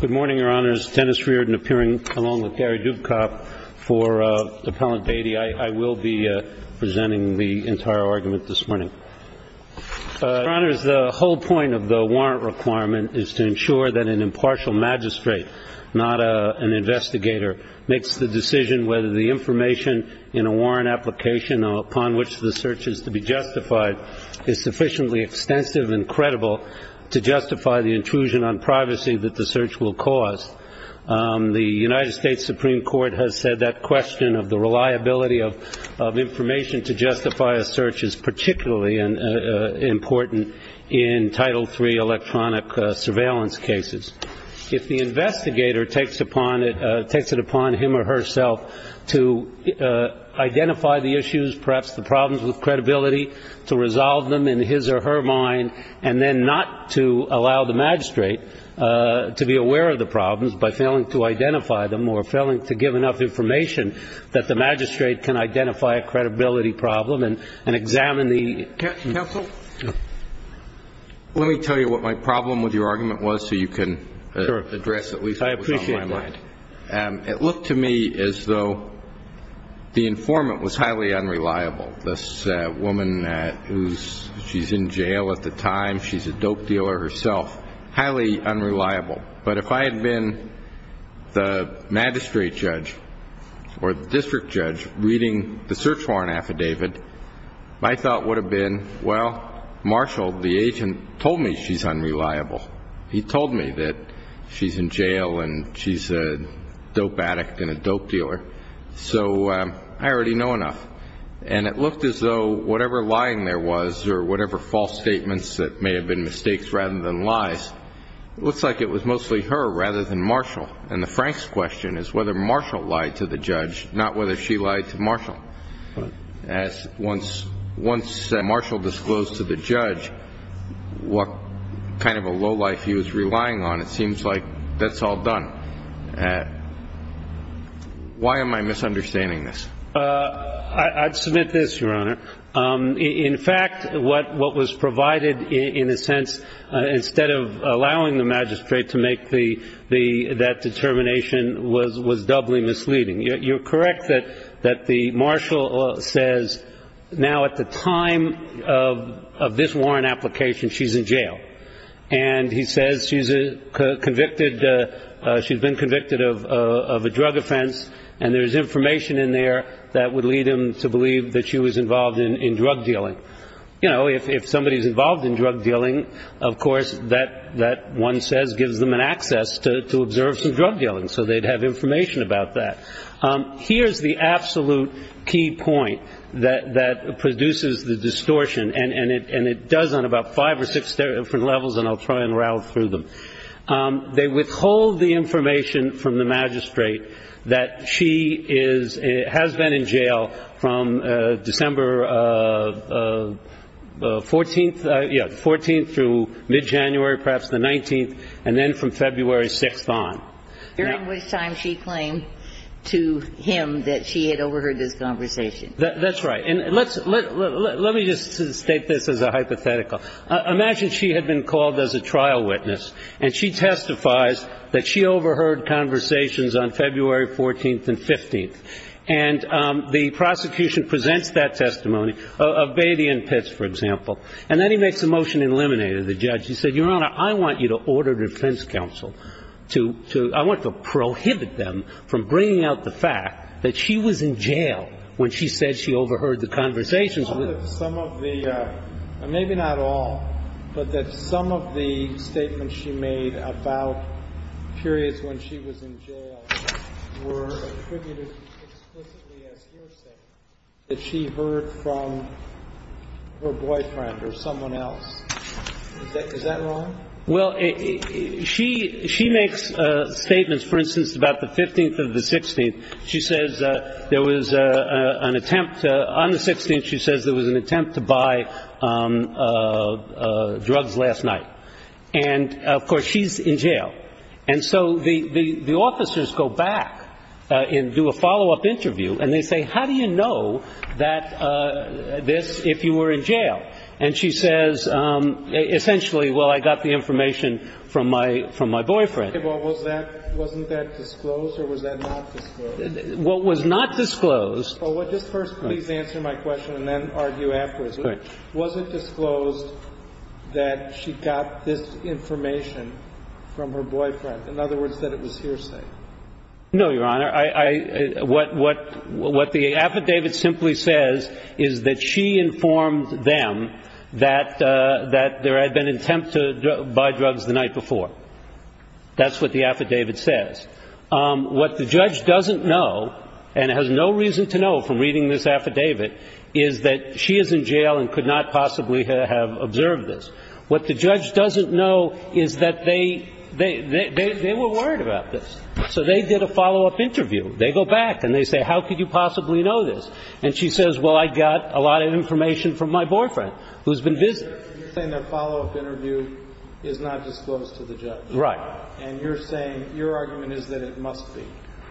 Good morning, Your Honors. Dennis Reardon appearing along with Gary Dubkop for Appellant Beattie. I will be presenting the entire argument this morning. Your Honors, the whole point of the warrant requirement is to ensure that an impartial magistrate, not an investigator, makes the decision whether the information in a warrant application upon which the search is to be justified is sufficiently extensive and credible to justify the intrusion on private property. The United States Supreme Court has said that question of the reliability of information to justify a search is particularly important in Title III electronic surveillance cases. If the investigator takes it upon him or herself to identify the issues, perhaps the problems with credibility, to resolve them in his or her mind, and then not to allow the magistrate to be aware of the problems by failing to identify them or failing to give enough information that the magistrate can identify a credibility problem and examine the... Counsel, let me tell you what my problem with your argument was so you can address at least what was on my mind. I appreciate that. It looked to me as though the informant was highly unreliable. This woman, she's in jail at the time, she's a dope dealer herself, highly unreliable. But if I had been the magistrate judge or the district judge reading the search warrant affidavit, my thought would have been, well, Marshall, the agent, told me she's unreliable. He told me that she's in jail and she's a dope addict and a dope dealer. So I already know enough. And it looked as though whatever lying there was or whatever false statements that may have been mistakes rather than lies, it looks like it was mostly her rather than Marshall. And the Frank's question is whether Marshall lied to the judge, not whether she lied to Marshall. Once Marshall disclosed to the judge what kind of a low life he was relying on, it seems like that's all done. Why am I misunderstanding this? I'd submit this, Your Honor. In fact, what was provided in a sense, instead of allowing the magistrate to make that determination, was doubly misleading. You're correct that the Marshall says now at the time of this warrant application, she's in jail. And he says she's convicted. She's been convicted of a drug offense. And there's information in there that would lead him to believe that she was involved in drug dealing. You know, if somebody's involved in drug dealing, of course, that one says gives them an access to observe some drug dealing. So they'd have information about that. Here's the absolute key point that produces the distortion. And it does on about five or six different levels, and I'll try and rattle through them. They withhold the information from the magistrate that she has been in jail from December 14th through mid-January, perhaps the 19th, and then from February 6th on. During which time she claimed to him that she had overheard this conversation. That's right. Let me just state this as a hypothetical. Imagine she had been called as a trial witness, and she testifies that she overheard conversations on February 14th and 15th. And the prosecution presents that testimony of Beatty and Pitts, for example. And then he makes a motion to eliminate her, the judge. He says, Your Honor, I want you to order defense counsel to – I want to prohibit them from bringing out the fact that she was in jail when she said she overheard the conversations. Some of the – maybe not all, but that some of the statements she made about periods when she was in jail were attributed explicitly as hearsay that she heard from her boyfriend or someone else. Is that wrong? Well, she makes statements, for instance, about the 15th and the 16th. She says there was an attempt – on the 16th, she says there was an attempt to buy drugs last night. And, of course, she's in jail. And so the officers go back and do a follow-up interview, and they say, How do you know this if you were in jail? And she says, Essentially, well, I got the information from my boyfriend. Wasn't that disclosed or was that not disclosed? Well, it was not disclosed. Well, just first please answer my question and then argue afterwards. Was it disclosed that she got this information from her boyfriend, in other words, that it was hearsay? No, Your Honor. What the affidavit simply says is that she informed them that there had been an attempt to buy drugs the night before. That's what the affidavit says. What the judge doesn't know, and has no reason to know from reading this affidavit, is that she is in jail and could not possibly have observed this. What the judge doesn't know is that they were worried about this. So they did a follow-up interview. They go back and they say, How could you possibly know this? And she says, Well, I got a lot of information from my boyfriend, who's been visiting. You're saying that follow-up interview is not disclosed to the judge. Right. And you're saying your argument is that it must be.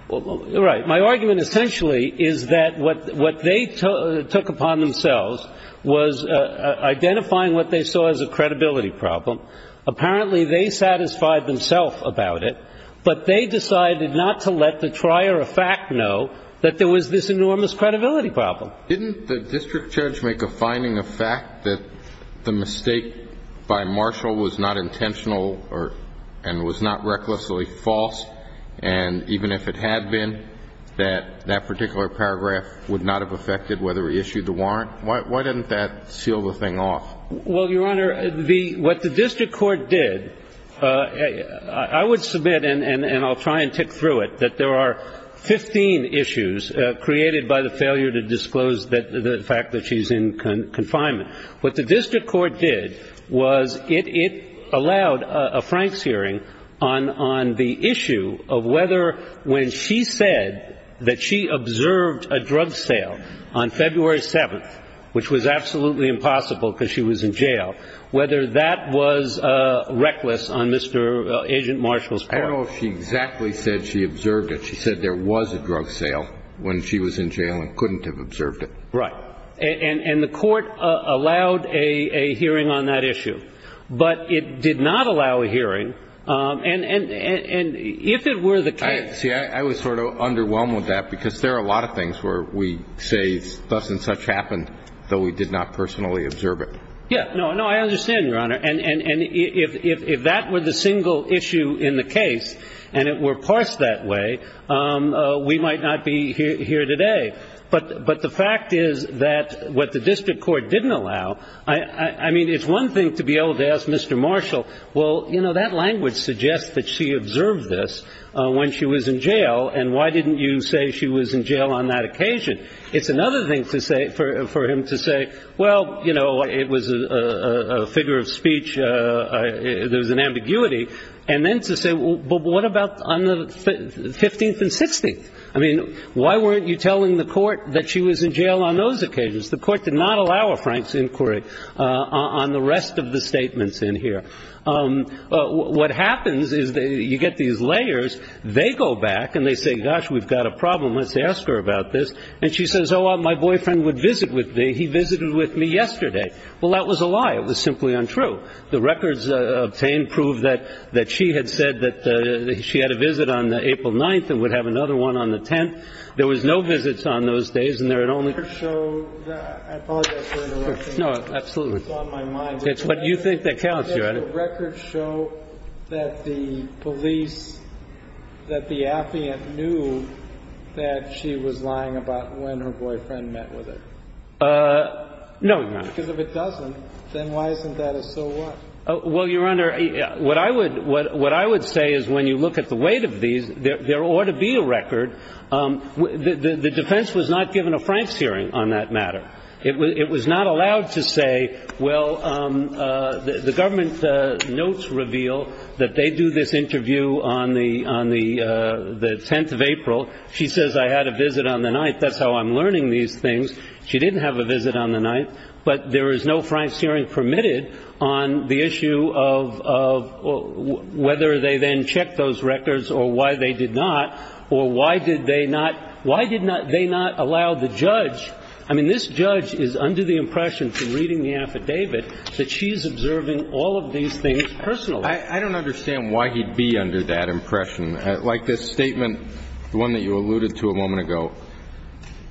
Right. My argument essentially is that what they took upon themselves was identifying what they saw as a credibility problem. Apparently, they satisfied themselves about it, but they decided not to let the trier of fact know that there was this enormous credibility problem. Didn't the district judge make a finding of fact that the mistake by Marshall was not intentional and was not recklessly false? And even if it had been, that that particular paragraph would not have affected whether he issued the warrant? Why didn't that seal the thing off? Well, Your Honor, what the district court did, I would submit, and I'll try and tick through it, that there are 15 issues created by the failure to disclose the fact that she's in confinement. What the district court did was it allowed a Franks hearing on the issue of whether when she said that she observed a drug sale on February 7th, which was absolutely impossible because she was in jail, whether that was reckless on Mr. Agent Marshall's part. I don't know if she exactly said she observed it. She said there was a drug sale when she was in jail and couldn't have observed it. Right. And the court allowed a hearing on that issue. But it did not allow a hearing. And if it were the case. See, I was sort of underwhelmed with that because there are a lot of things where we say thus and such happened, though we did not personally observe it. Yeah. No, I understand, Your Honor. And if that were the single issue in the case and it were parsed that way, we might not be here today. But the fact is that what the district court didn't allow, I mean, it's one thing to be able to ask Mr. Marshall, well, you know, that language suggests that she observed this when she was in jail. And why didn't you say she was in jail on that occasion? It's another thing to say for him to say, well, you know, it was a figure of speech. There was an ambiguity. And then to say, well, what about on the 15th and 16th? I mean, why weren't you telling the court that she was in jail on those occasions? The court did not allow a Frank's inquiry on the rest of the statements in here. What happens is you get these layers. They go back and they say, gosh, we've got a problem. Let's ask her about this. And she says, oh, my boyfriend would visit with me. He visited with me yesterday. Well, that was a lie. It was simply untrue. The records obtained prove that she had said that she had a visit on April 9th and would have another one on the 10th. There was no visits on those days. I apologize for interrupting. No, absolutely. It's on my mind. It's what you think that counts, Your Honor. The records show that the police, that the affiant knew that she was lying about when her boyfriend met with her. No, Your Honor. Because if it doesn't, then why isn't that a so what? Well, Your Honor, what I would say is when you look at the weight of these, there ought to be a record. The defense was not given a Frank's hearing on that matter. It was not allowed to say, well, the government notes reveal that they do this interview on the 10th of April. She says I had a visit on the 9th. That's how I'm learning these things. She didn't have a visit on the 9th. But there is no Frank's hearing permitted on the issue of whether they then checked those records or why they did not, or why did they not allow the judge. I mean, this judge is under the impression from reading the affidavit that she is observing all of these things personally. I don't understand why he'd be under that impression. Like this statement, the one that you alluded to a moment ago,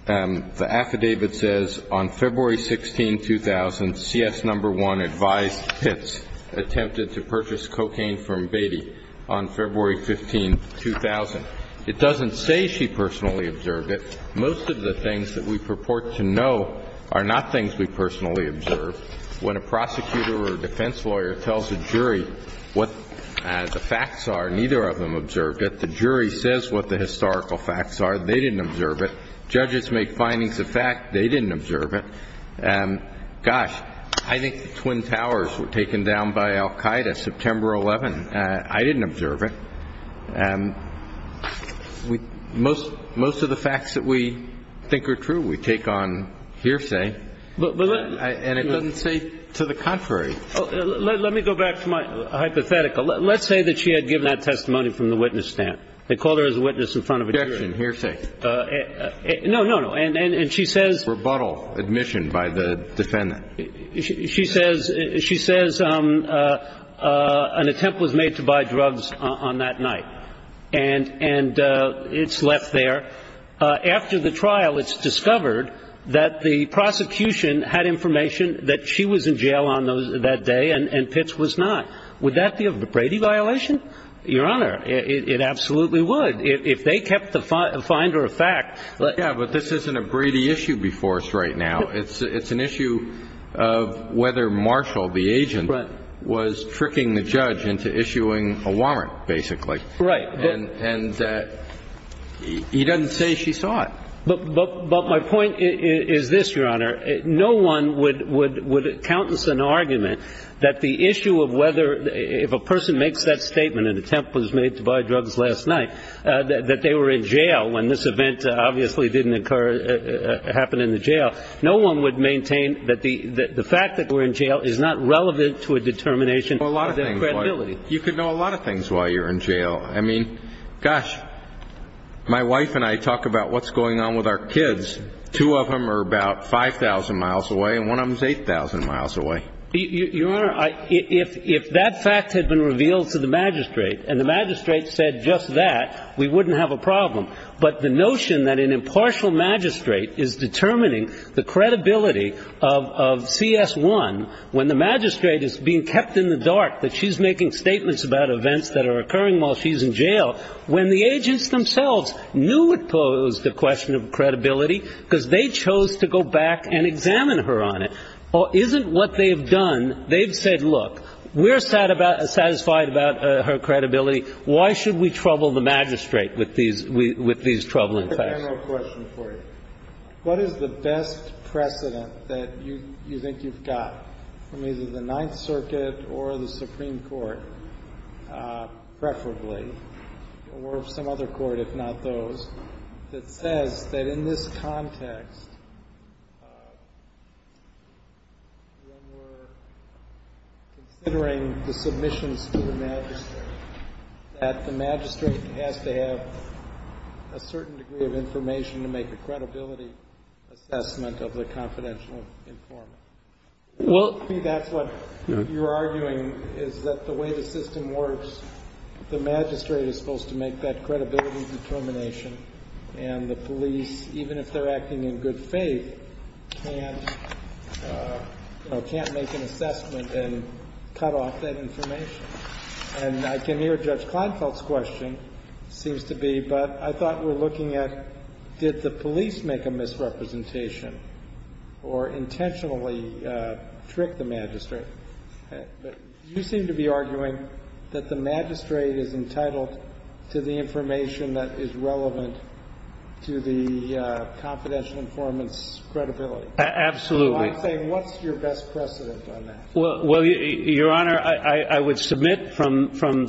the affidavit says, on February 16, 2000, CS No. 1 advised Pitts attempted to purchase cocaine from Beatty on February 15, 2000. It doesn't say she personally observed it. Most of the things that we purport to know are not things we personally observed. When a prosecutor or a defense lawyer tells a jury what the facts are, neither of them observed it. The jury says what the historical facts are. They didn't observe it. Judges make findings of fact. They didn't observe it. Gosh, I think the Twin Towers were taken down by al Qaeda September 11. I didn't observe it. Most of the facts that we think are true we take on hearsay. And it doesn't say to the contrary. Let me go back to my hypothetical. Let's say that she had given that testimony from the witness stand. They called her as a witness in front of a jury. Objection. Hearsay. No, no, no. And she says. Rebuttal, admission by the defendant. She says an attempt was made to buy drugs on that night, and it's left there. After the trial, it's discovered that the prosecution had information that she was in jail on that day and Pitts was not. Would that be a Brady violation? Your Honor, it absolutely would. If they kept the finder of fact. Yeah, but this isn't a Brady issue before us right now. It's an issue of whether Marshall, the agent, was tricking the judge into issuing a warrant, basically. Right. And he doesn't say she saw it. But my point is this, Your Honor. No one would countenance an argument that the issue of whether if a person makes that statement, an attempt was made to buy drugs last night, that they were in jail when this event obviously didn't occur, happen in the jail, no one would maintain that the fact that they were in jail is not relevant to a determination of their credibility. You could know a lot of things while you're in jail. I mean, gosh, my wife and I talk about what's going on with our kids. Two of them are about 5,000 miles away and one of them is 8,000 miles away. Your Honor, if that fact had been revealed to the magistrate and the magistrate said just that, we wouldn't have a problem. But the notion that an impartial magistrate is determining the credibility of CS1 when the magistrate is being kept in the dark that she's making statements about events that are occurring while she's in jail, when the agents themselves knew it posed a question of credibility because they chose to go back and examine her on it, isn't what they've done, they've said, look, we're satisfied about her credibility. Why should we trouble the magistrate with these troubling facts? I have a question for you. What is the best precedent that you think you've got from either the Ninth Circuit or the Supreme Court, preferably, or some other court if not those, that says that in this context, when we're considering the submissions to the magistrate, that the magistrate has to have a certain degree of information to make a credibility assessment of the confidential informant? Well, I think that's what you're arguing is that the way the system works, the magistrate is supposed to make that credibility determination and the police, even if they're acting in good faith, can't make an assessment and cut off that information. And I can hear Judge Kleinfeld's question, seems to be, but I thought we're looking at did the police make a misrepresentation or intentionally trick the magistrate? You seem to be arguing that the magistrate is entitled to the information that is relevant to the confidential informant's credibility. Absolutely. So I'm saying what's your best precedent on that? Well, Your Honor, I would submit from, and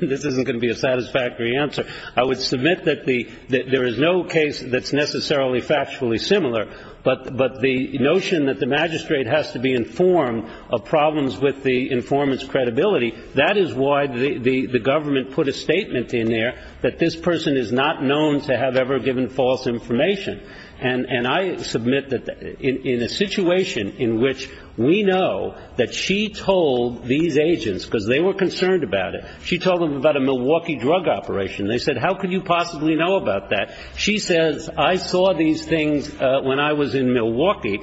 this isn't going to be a satisfactory answer, I would submit that there is no case that's necessarily factually similar, but the notion that the magistrate has to be informed of problems with the informant's credibility, that is why the government put a statement in there that this person is not known to have ever given false information. And I submit that in a situation in which we know that she told these agents, because they were concerned about it, she told them about a Milwaukee drug operation. They said, how could you possibly know about that? She says, I saw these things when I was in Milwaukee.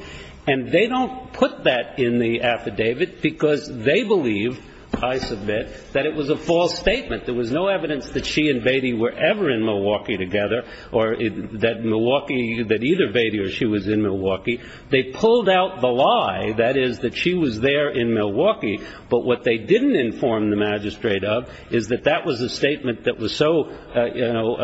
And they don't put that in the affidavit because they believe, I submit, that it was a false statement. There was no evidence that she and Beatty were ever in Milwaukee together or that Milwaukee, that either Beatty or she was in Milwaukee. They pulled out the lie, that is, that she was there in Milwaukee. But what they didn't inform the magistrate of is that that was a statement that was so, you know,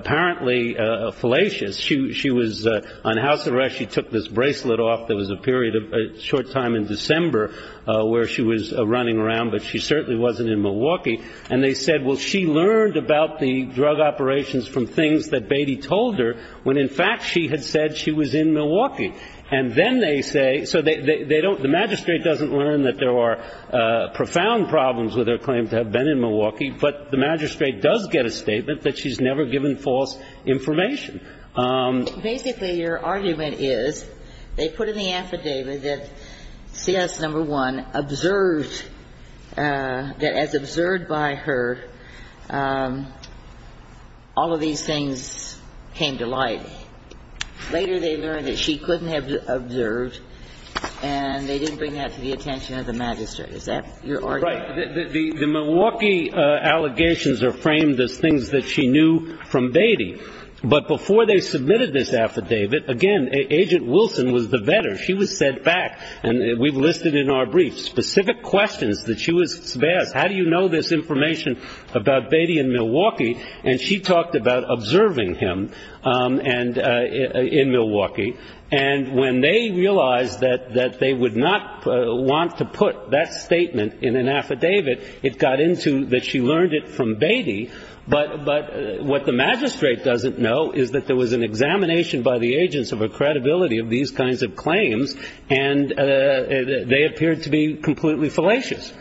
apparently fallacious. She was on house arrest. She took this bracelet off. There was a period, a short time in December where she was running around, but she certainly wasn't in Milwaukee. And they said, well, she learned about the drug operations from things that Beatty told her, when in fact she had said she was in Milwaukee. And then they say, so they don't, the magistrate doesn't learn that there are profound problems with her claim to have been in Milwaukee. But the magistrate does get a statement that she's never given false information. Basically, your argument is they put in the affidavit that C.S. No. 1 observed that as observed by her, all of these things came to light. Later they learned that she couldn't have observed, and they didn't bring that to the attention of the magistrate. Is that your argument? Right. The Milwaukee allegations are framed as things that she knew from Beatty. But before they submitted this affidavit, again, Agent Wilson was the vetter. She was sent back, and we've listed in our brief specific questions that she was asked. How do you know this information about Beatty in Milwaukee? And she talked about observing him in Milwaukee. And when they realized that they would not want to put that statement in an affidavit, it got into that she learned it from Beatty. But what the magistrate doesn't know is that there was an examination by the agents of a credibility of these kinds of claims, and they appeared to be completely fallacious.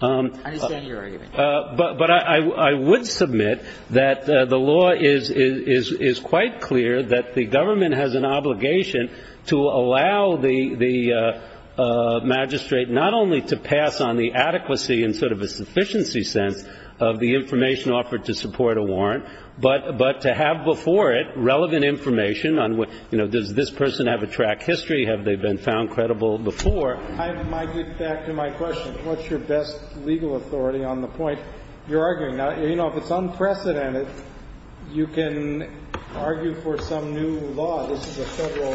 I understand your argument. But I would submit that the law is quite clear that the government has an obligation to allow the magistrate not only to pass on the adequacy and sort of a sufficiency sense of the information offered to support a warrant, but to have before it relevant information on, you know, does this person have a track history? Have they been found credible before? I might get back to my question. What's your best legal authority on the point you're arguing? Now, you know, if it's unprecedented, you can argue for some new law. This is a Federal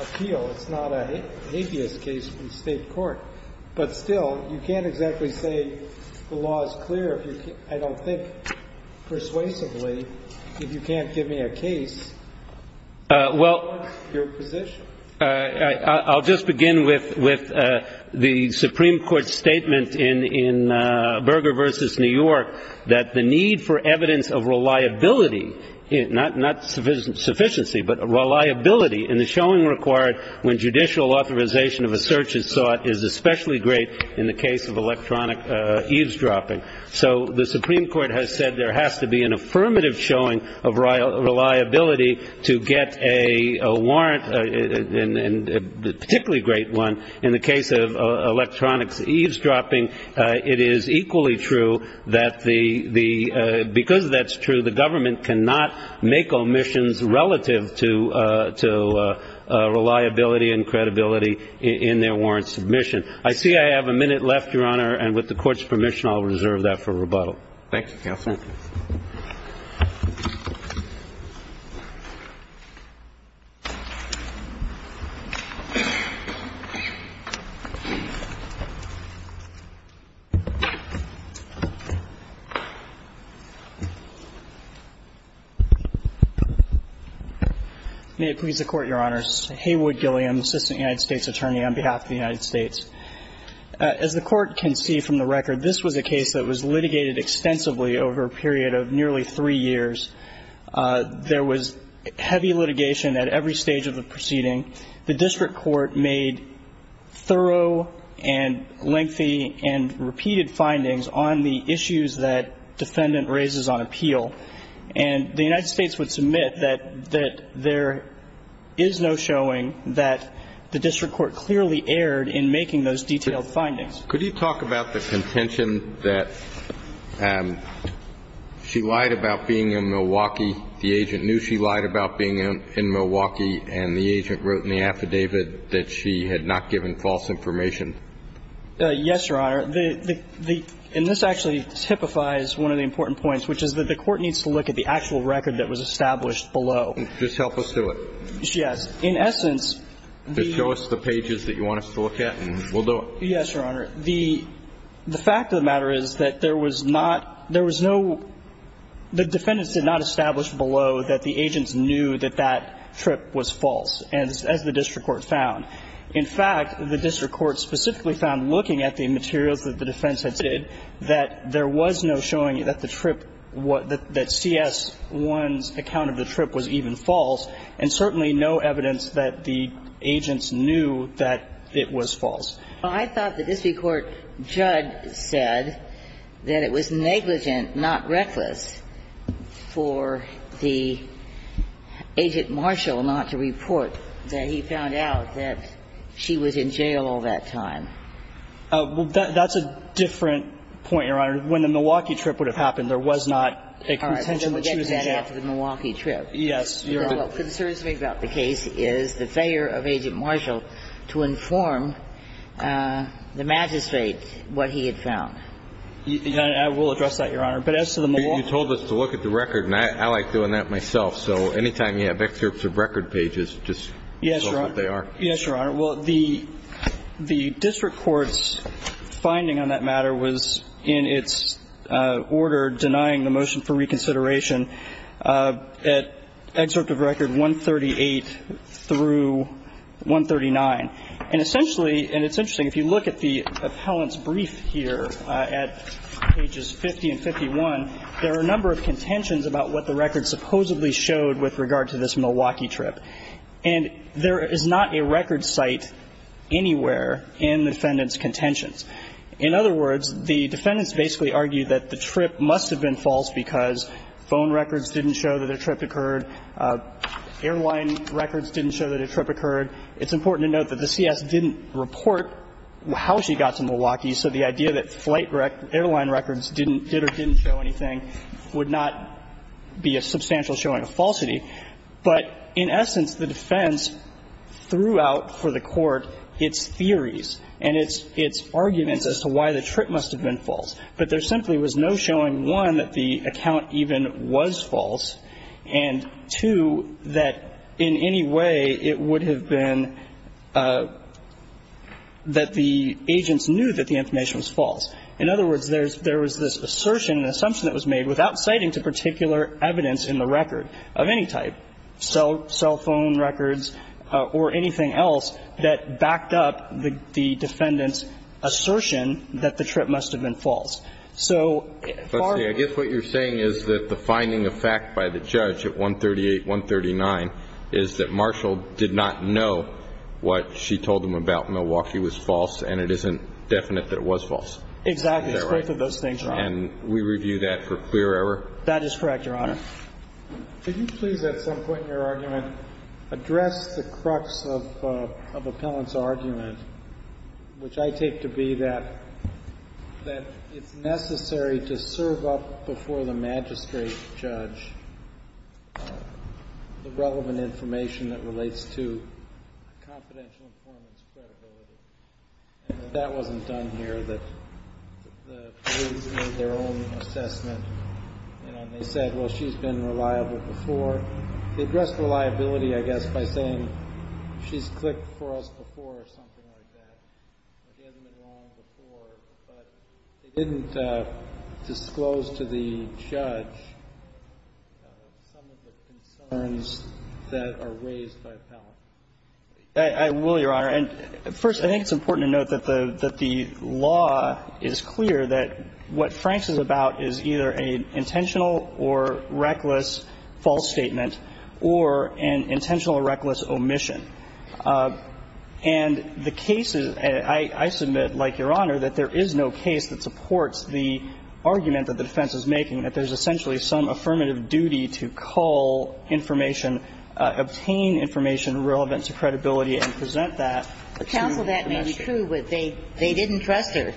appeal. It's not a habeas case from state court. But still, you can't exactly say the law is clear. I don't think persuasively, if you can't give me a case, what's your position? I'll just begin with the Supreme Court's statement in Berger v. New York that the need for evidence of reliability, not sufficiency, but reliability in the showing required when judicial authorization of a search is sought is especially great in the case of electronic eavesdropping. So the Supreme Court has said there has to be an affirmative showing of reliability to get a warrant, and a particularly great one in the case of electronics eavesdropping. It is equally true that because that's true, the government cannot make omissions relative to reliability and credibility in their warrant submission. I see I have a minute left, Your Honor, and with the Court's permission, I'll reserve that for rebuttal. Thank you, Counsel. May it please the Court, Your Honors. Heywood Gilliam, Assistant United States Attorney on behalf of the United States. As the Court can see from the record, this was a case that was litigated extensively over a period of nearly three years. There was heavy litigation at every stage of the proceeding. The district court made thorough and lengthy and repeated findings on the issues that defendant raises on appeal. And the United States would submit that there is no showing that the district court clearly erred in making those detailed findings. Could you talk about the contention that she lied about being in Milwaukee, the agent knew she lied about being in Milwaukee, and the agent wrote in the affidavit that she had not given false information? Yes, Your Honor. And this actually typifies one of the important points, which is that the Court needs to look at the actual record that was established below. Just help us do it. Yes. In essence, the – Just show us the pages that you want us to look at and we'll do it. Yes, Your Honor. The fact of the matter is that there was not – there was no – the defendants did not establish below that the agents knew that that trip was false, as the district court found. In fact, the district court specifically found, looking at the materials that the defense had submitted, that there was no showing that the trip – that CS-1's account of the trip was even false, and certainly no evidence that the agents knew that it was false. Well, I thought the district court judge said that it was negligent, not reckless, for the agent Marshall not to report that he found out that she was in jail all that time. Well, that's a different point, Your Honor. When the Milwaukee trip would have happened, there was not a contention that she was in jail. All right. Well, then we'll get to that after the Milwaukee trip. Yes, Your Honor. What concerns me about the case is the failure of Agent Marshall to inform the magistrate what he had found. I will address that, Your Honor. But as to the Milwaukee – You told us to look at the record, and I like doing that myself. So anytime you have excerpts of record pages, just tell us what they are. Yes, Your Honor. Yes, Your Honor. Well, the district court's finding on that matter was in its order denying the motion for reconsideration at excerpt of record 138 through 139. And essentially, and it's interesting, if you look at the appellant's brief here at pages 50 and 51, there are a number of contentions about what the record supposedly showed with regard to this Milwaukee trip. And there is not a record site anywhere in the defendant's contentions. In other words, the defendants basically argued that the trip must have been false because phone records didn't show that a trip occurred. Airline records didn't show that a trip occurred. It's important to note that the CS didn't report how she got to Milwaukee, so the idea that flight rec – airline records didn't – did or didn't show anything would not be a substantial showing of falsity. But in essence, the defense threw out for the Court its theories and its – its arguments as to why the trip must have been false. But there simply was no showing, one, that the account even was false, and, two, that in any way it would have been that the agents knew that the information was false. In other words, there's – there was this assertion, assumption that was made without citing to particular evidence in the record of any type, cell – cell phone records or anything else that backed up the defendant's assertion that the trip must have been So far – False, and it isn't definite that it was false. Exactly. Is that right? It's both of those things, Your Honor. And we review that for clear error? That is correct, Your Honor. Could you please at some point in your argument address the crux of – of Appellant's argument, which I take to be that – that it's necessary to serve up before the magistrate the relevant information that relates to confidential informant's credibility, and that that wasn't done here, that the police made their own assessment, you know, and they said, well, she's been reliable before. They addressed reliability, I guess, by saying she's clicked for us before or something like that. It hasn't been long before, but they didn't disclose to the judge some of the concerns that are raised by Appellant. I will, Your Honor. And first, I think it's important to note that the – that the law is clear that what Franks is about is either an intentional or reckless false statement or an intentional or reckless omission. And the cases – I submit, like Your Honor, that there is no case that supports the argument that the defense is making, that there's essentially some affirmative duty to cull information, obtain information relevant to credibility and present that to the magistrate. Counsel, that may be true, but they – they didn't trust her,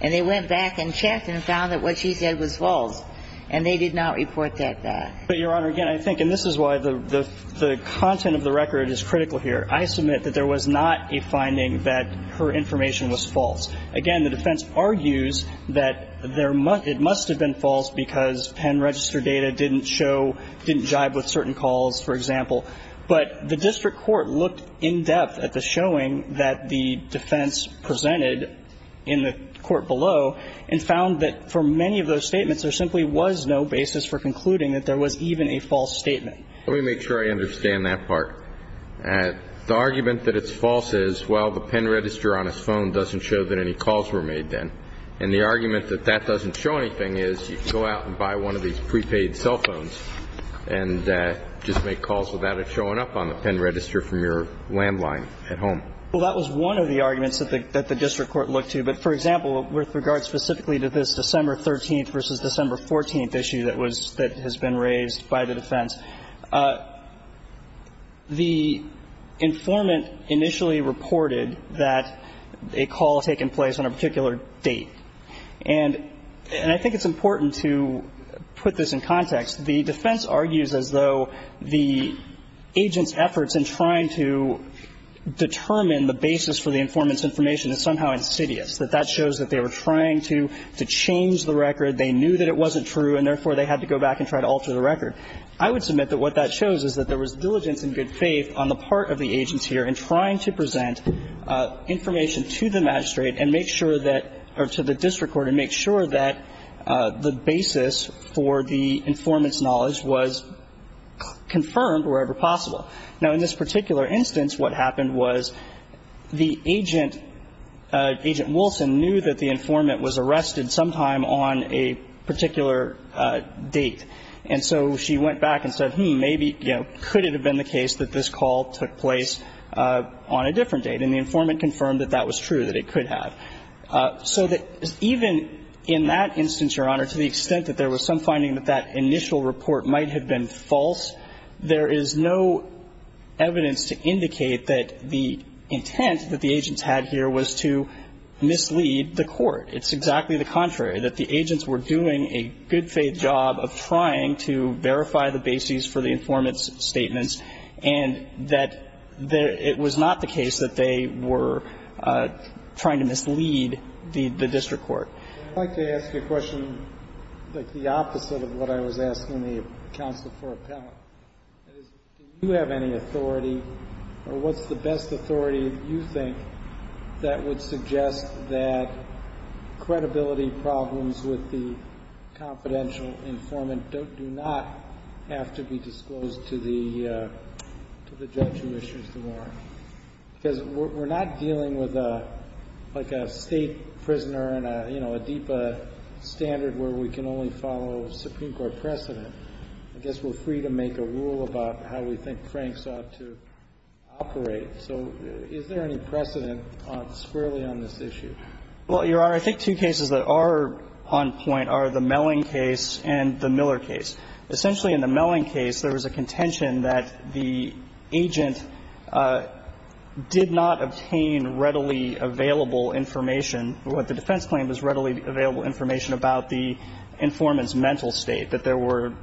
and they went back and checked and found that what she said was false, and they did not report that back. But, Your Honor, again, I think – and this is why the – the content of the record is critical here. I submit that there was not a finding that her information was false. Again, the defense argues that there – it must have been false because pen register data didn't show – didn't jibe with certain calls, for example. But the district court looked in depth at the showing that the defense presented in the court below and found that for many of those statements, there simply was no basis for concluding that there was even a false statement. Let me make sure I understand that part. The argument that it's false is, well, the pen register on his phone doesn't show that any calls were made then. And the argument that that doesn't show anything is you can go out and buy one of these prepaid cell phones and just make calls without it showing up on the pen register from your landline at home. Well, that was one of the arguments that the – that the district court looked to. But, for example, with regard specifically to this December 13th versus December 14th issue that was – that has been raised by the defense, the informant initially reported that a call had taken place on a particular date. And I think it's important to put this in context. The defense argues as though the agent's efforts in trying to determine the basis for the informant's information is somehow insidious, that that shows that they were trying to change the record. They knew that it wasn't true, and therefore they had to go back and try to alter the record. I would submit that what that shows is that there was diligence and good faith on the part of the agents here in trying to present information to the magistrate and make sure that – or to the district court and make sure that the basis for the informant's knowledge was confirmed wherever possible. Now, in this particular instance, what happened was the agent, Agent Wilson, knew that the informant was arrested sometime on a particular date. And so she went back and said, hmm, maybe, you know, could it have been the case that this call took place on a different date? And the informant confirmed that that was true, that it could have. So that even in that instance, Your Honor, to the extent that there was some finding that that initial report might have been false, there is no evidence to indicate that the intent that the agents had here was to mislead the court. It's exactly the contrary, that the agents were doing a good faith job of trying to verify the basis for the informant's statements and that it was not the case that they were trying to mislead the district court. I'd like to ask you a question that's the opposite of what I was asking the counsel for appellate. Do you have any authority, or what's the best authority you think that would suggest that credibility problems with the confidential informant do not have to be disclosed to the judge who issues the warrant? Because we're not dealing with, like, a state prisoner and, you know, a DEPA standard where we can only follow Supreme Court precedent. I guess we're free to make a rule about how we think Frank sought to operate. So is there any precedent squarely on this issue? Well, Your Honor, I think two cases that are on point are the Melling case and the Miller case. Essentially, in the Melling case, there was a contention that the agent did not obtain readily available information, or what the defense claimed was readily available information about the informant's mental state, that there were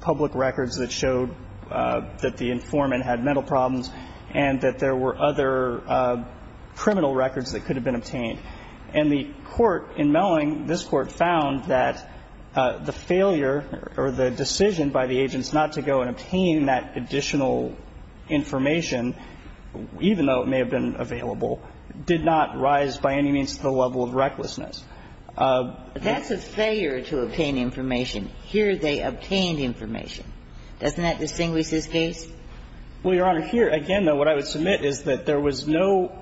public records that showed that the informant had mental problems and that there were other criminal records that could have been obtained. And the court in Melling, this court, found that the failure or the decision by the agents not to go and obtain that additional information, even though it may have been That's a failure to obtain information. Here they obtained information. Doesn't that distinguish this case? Well, Your Honor, here, again, though, what I would submit is that there was no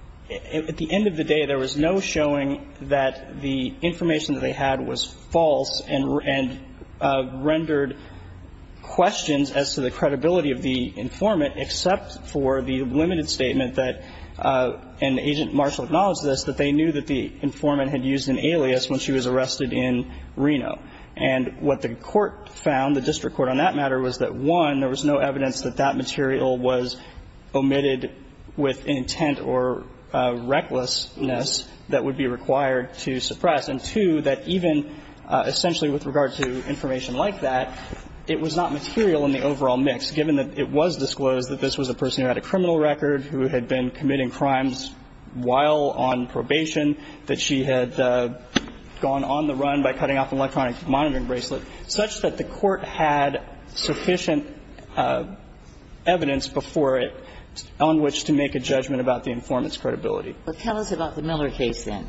– at the end of the day, there was no showing that the information that they had was false and rendered questions as to the credibility of the informant, except for the limited statement that, and Agent Marshall acknowledged this, that they knew that the informant had used an alias when she was arrested in Reno. And what the court found, the district court on that matter, was that, one, there was no evidence that that material was omitted with intent or recklessness that would be required to suppress, and, two, that even essentially with regard to information like that, it was not material in the overall mix, given that it was disclosed that this was a person who had a criminal record, who had been committing crimes while on probation, that she had gone on the run by cutting off an electronic monitoring bracelet, such that the court had sufficient evidence before it on which to make a judgment about the informant's credibility. But tell us about the Miller case, then.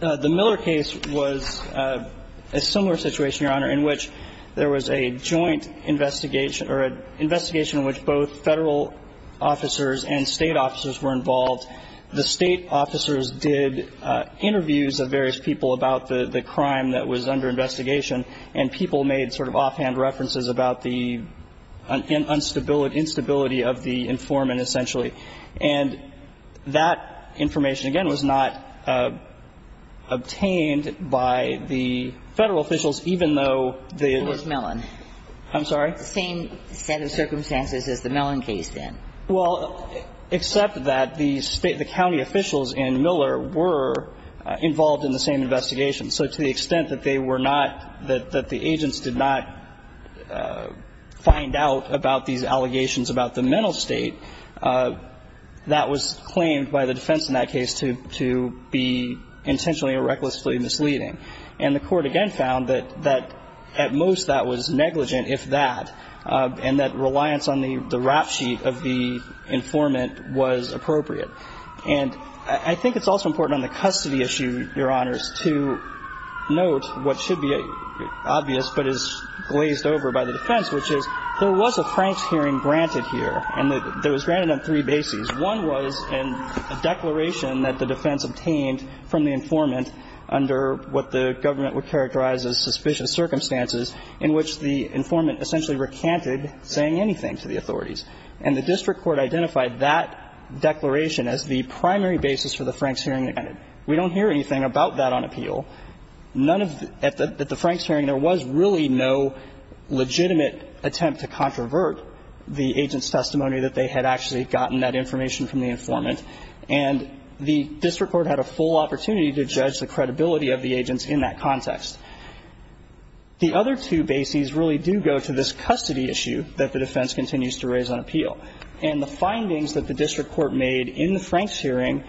The Miller case was a similar situation, Your Honor, in which there was a joint investigation or an investigation in which both Federal officers and State officers were involved. The State officers did interviews of various people about the crime that was under investigation, and people made sort of offhand references about the instability of the informant, essentially. And that information, again, was not obtained by the Federal officials, even though they were the same set of circumstances as the Miller case, then. Well, except that the State, the county officials in Miller were involved in the same investigation. So to the extent that they were not, that the agents did not find out about these allegations about the mental state, that was claimed by the defense in that case to be intentionally or recklessly misleading. And the court, again, found that at most that was negligent, if that, and that reliance on the rap sheet of the informant was appropriate. And I think it's also important on the custody issue, Your Honors, to note what should be obvious but is glazed over by the defense, which is there was a Franks hearing granted here, and it was granted on three bases. One was in a declaration that the defense obtained from the informant under what the government would characterize as suspicious circumstances in which the informant essentially recanted saying anything to the authorities. And the district court identified that declaration as the primary basis for the Franks hearing. And we don't hear anything about that on appeal. None of the – at the Franks hearing, there was really no legitimate attempt to controvert the agent's testimony that they had actually gotten that information from the informant. And the district court had a full opportunity to judge the credibility of the agents in that context. The other two bases really do go to this custody issue that the defense continues to raise on appeal. And the findings that the district court made in the Franks hearing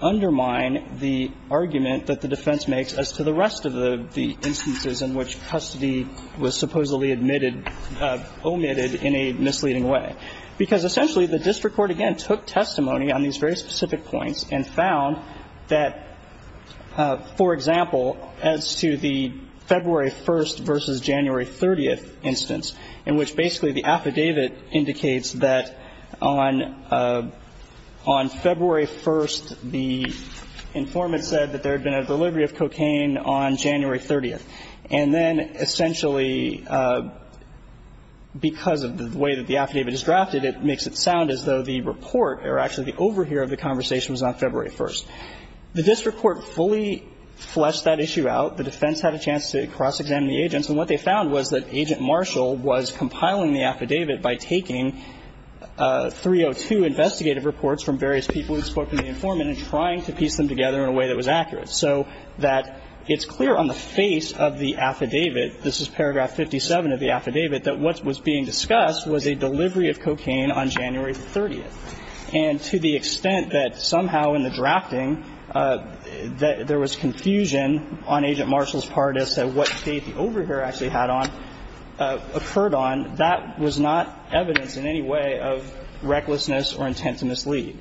undermine the argument that the defense makes as to the rest of the instances in which custody was supposedly admitted – omitted in a misleading way. Because essentially, the district court, again, took testimony on these very specific points and found that, for example, as to the February 1st versus January 30th instance in which basically the affidavit indicates that on – on February 1st, the informant said that there had been a delivery of cocaine on January 30th. And then essentially because of the way that the affidavit is drafted, it makes it sound as though the report, or actually the overhear of the conversation, was on February 1st. The district court fully fleshed that issue out. The defense had a chance to cross-examine the agents, and what they found was that Agent Marshall was compiling the affidavit by taking 302 investigative reports from various people who had spoken to the informant and trying to piece them together in a way that was accurate, so that it's clear on the face of the affidavit – this is paragraph 57 of the affidavit – that what was being discussed was a delivery of cocaine on January 30th. And to the extent that occurred on, that was not evidence in any way of recklessness or intent to mislead.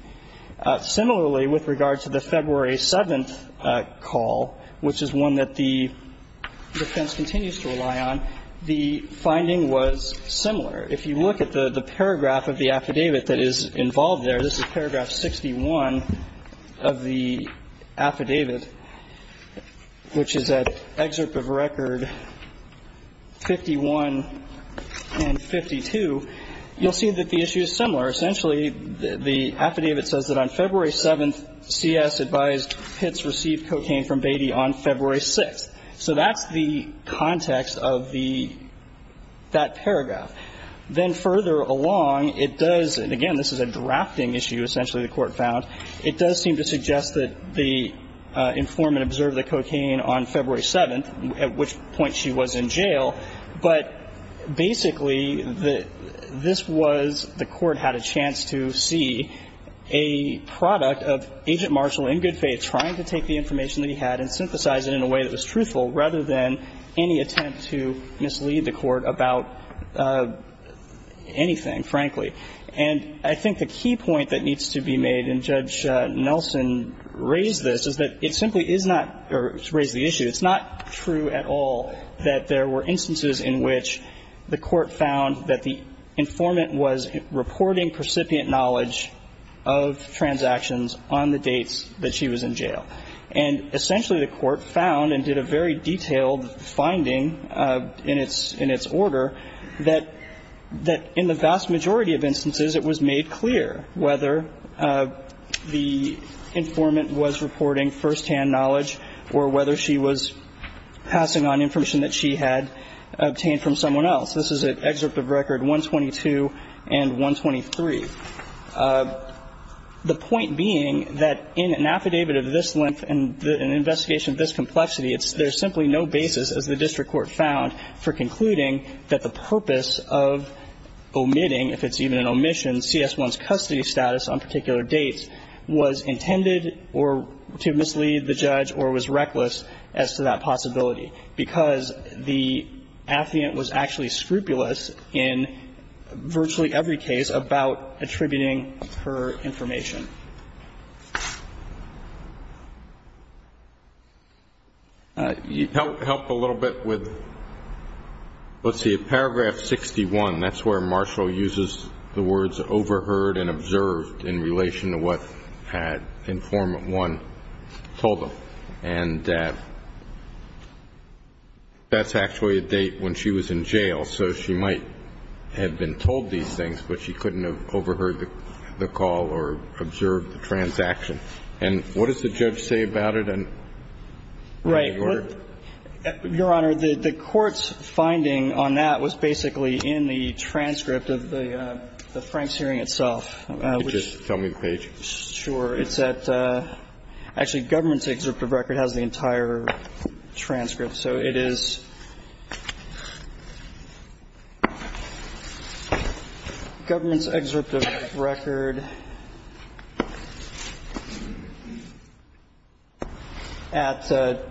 Similarly, with regard to the February 7th call, which is one that the defense continues to rely on, the finding was similar. If you look at the paragraph of the affidavit that is involved there, this is paragraph 61 of the affidavit, which is an excerpt of record 51 and 52, you'll see that the issue is similar. Essentially, the affidavit says that on February 7th, C.S. advised Pitts received cocaine from Beatty on February 6th. So that's the context of the – that paragraph. Then further along, it does – and again, this is a drafting issue, essentially, the court found. It does seem to suggest that the informant observed the cocaine on February 7th, at which point she was in jail. But basically, the – this was – the court had a chance to see a product of Agent Marshall in good faith trying to take the information that he had and synthesize it in a way that was truthful rather than any attempt to mislead the court about anything, frankly. And I think the key point that needs to be made, and Judge Nelson raised this, is that it simply is not – or raised the issue. It's not true at all that there were instances in which the court found that the informant was reporting precipient knowledge of transactions on the dates that she was in jail. And essentially, the court found and did a very detailed finding in its – in its majority of instances, it was made clear whether the informant was reporting firsthand knowledge or whether she was passing on information that she had obtained from someone else. This is at Excerpt of Record 122 and 123. The point being that in an affidavit of this length and an investigation of this complexity, it's – there's simply no basis, as the district court found, for concluding that the purpose of omitting, if it's even an omission, CS1's custody status on particular dates was intended or – to mislead the judge or was reckless as to that possibility, because the affiant was actually scrupulous in virtually every case about attributing her information. Help a little bit with – let's see. Paragraph 61, that's where Marshall uses the words overheard and observed in relation to what had informant one told him. And that's actually a date when she was in jail. So she might have been told these things, but she couldn't have overheard the call or observed the transaction. And what does the judge say about it? Right. Your Honor, the court's finding on that was basically in the transcript of the Franks hearing itself. Could you just tell me the page? Sure. It's at – actually, Government's Excerpt of Record has the entire transcript. So it is Government's Excerpt of Record. It's at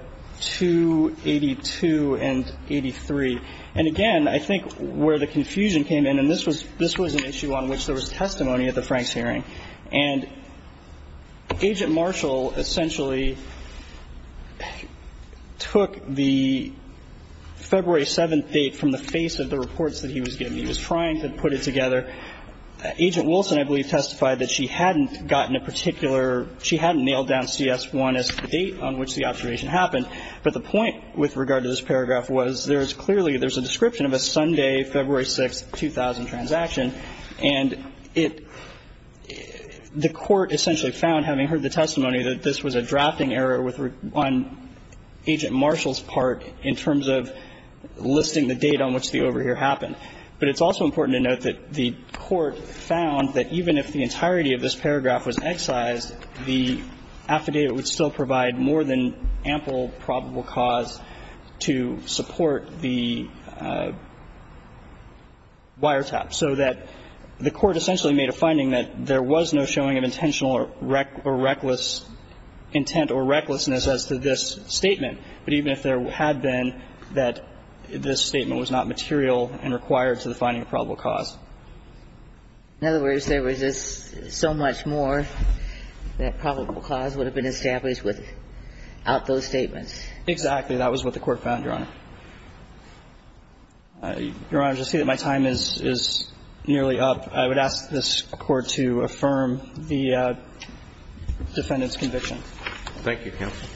282 and 83. And again, I think where the confusion came in, and this was an issue on which there was testimony at the Franks hearing, and Agent Marshall essentially took the February 7th date from the face of the reports that he was giving. He was trying to put it together. Agent Wilson, I believe, testified that she hadn't gotten a particular – she hadn't nailed down CS1 as the date on which the observation happened. But the point with regard to this paragraph was there's clearly – there's a description of a Sunday, February 6th, 2000 transaction. And it – the court essentially found, having heard the testimony, that this was a drafting error on Agent Marshall's part in terms of listing the date on which the overhear happened. But it's also important to note that the court found that even if the entirety of this paragraph was excised, the affidavit would still provide more than ample probable cause to support the wiretap. So that the court essentially made a finding that there was no showing of intentional or reckless intent or recklessness as to this statement. But even if there had been, that this statement was not material and required to the finding of probable cause. In other words, there was just so much more that probable cause would have been established without those statements. That was what the court found, Your Honor. Your Honor, to say that my time is nearly up, I would ask this Court to affirm the defendant's conviction. Thank you, counsel.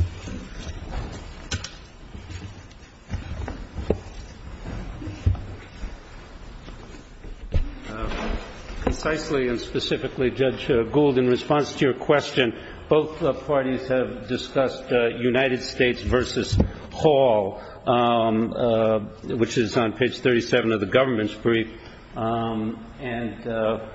Concisely and specifically, Judge Gould, in response to your question, both parties have discussed United States v. Hall, which is on page 37 of the government's brief, and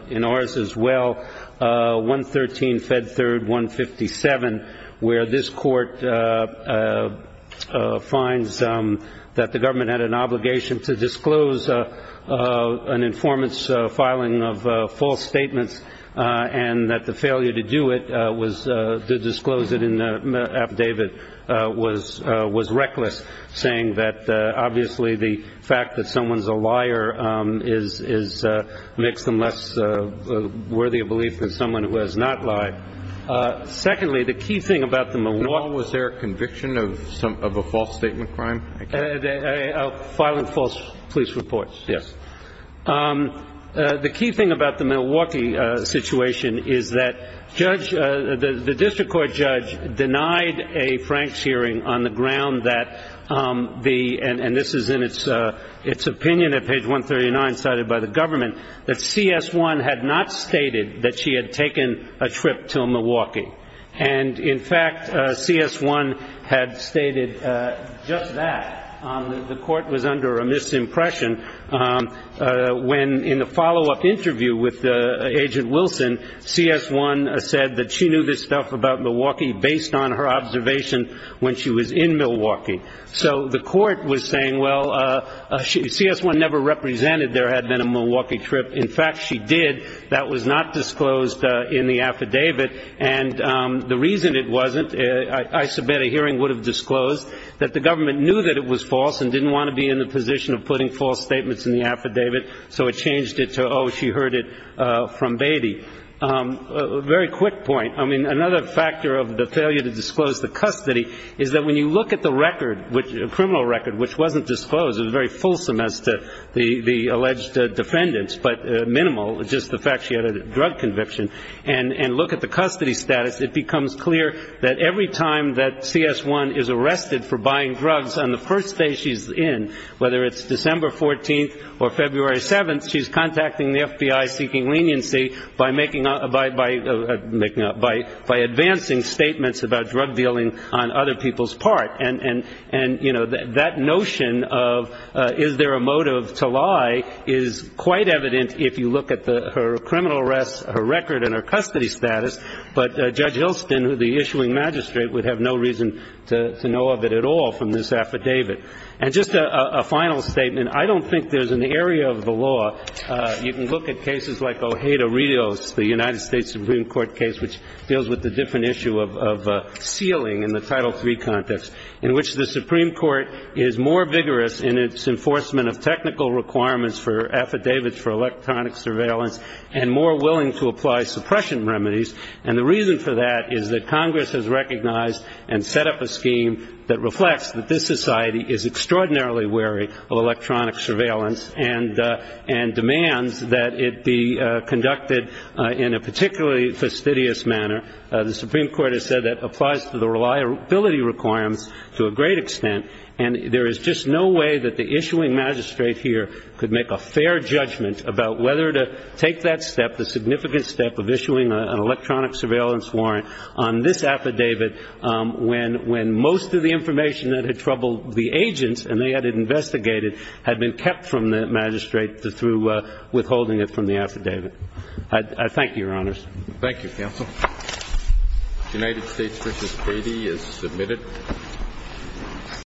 in ours as well, 113 Fed Third 157, where this court finds that the government had an obligation to disclose an informant's filing of false statements and that the failure to do it was to disclose it in the affidavit was reckless, saying that obviously the fact that someone's a liar makes them less worthy of belief than someone who has not lied. Secondly, the key thing about the Milwaukee... And was there a conviction of a false statement crime? A filing of false police reports. Yes. The key thing about the Milwaukee situation is that the district court judge denied a Franks hearing on the ground that the... And this is in its opinion at page 139 cited by the government, that CS1 had not stated that she had taken a trip to Milwaukee. And in fact, CS1 had stated just that. The court was under a misimpression when in the follow-up interview with Agent Wilson, CS1 said that she knew this stuff about Milwaukee based on her observation when she was in Milwaukee. So the court was saying, well, CS1 never represented there had been a Milwaukee trip. In fact, she did. That was not disclosed in the affidavit. And the reason it wasn't, I submit a hearing would have disclosed that the government knew that it was false and didn't want to be in the position of putting false statements in the affidavit, so it changed it to, oh, she heard it from Beatty. A very quick point. I mean, another factor of the failure to disclose the custody is that when you look at the record, a criminal record which wasn't disclosed, it was very fulsome as to the alleged defendants, but minimal, just the fact she had a drug conviction, and look at the custody status, it becomes clear that every time that CS1 is arrested for buying drugs on the first day she's in, whether it's December 14th or February 7th, she's contacting the FBI seeking leniency by advancing statements about drug dealing on other people's part. And, you know, that notion of is there a motive to lie is quite evident if you look at her criminal arrest, her record, and her custody status. But Judge Hilston, the issuing magistrate, would have no reason to know of it at all from this affidavit. And just a final statement. I don't think there's an area of the law, you can look at cases like Ojeda-Rios, the United States Supreme Court case which deals with the different issue of sealing in the Title III context, in which the Supreme Court is more vigorous in its enforcement of technical requirements for affidavits for electronic surveillance and more willing to apply suppression remedies. And the reason for that is that Congress has recognized and set up a scheme that reflects that this society is extraordinarily wary of electronic surveillance and demands that it be conducted in a particularly fastidious manner. The Supreme Court has said that applies to the reliability requirements to a great extent, and there is just no way that the issuing magistrate here could make a fair judgment about whether to take that step, of issuing an electronic surveillance warrant on this affidavit when most of the information that had troubled the agents, and they had it investigated, had been kept from the magistrate through withholding it from the affidavit. I thank you, Your Honors. Thank you, Counsel. United States v. Cady is submitted.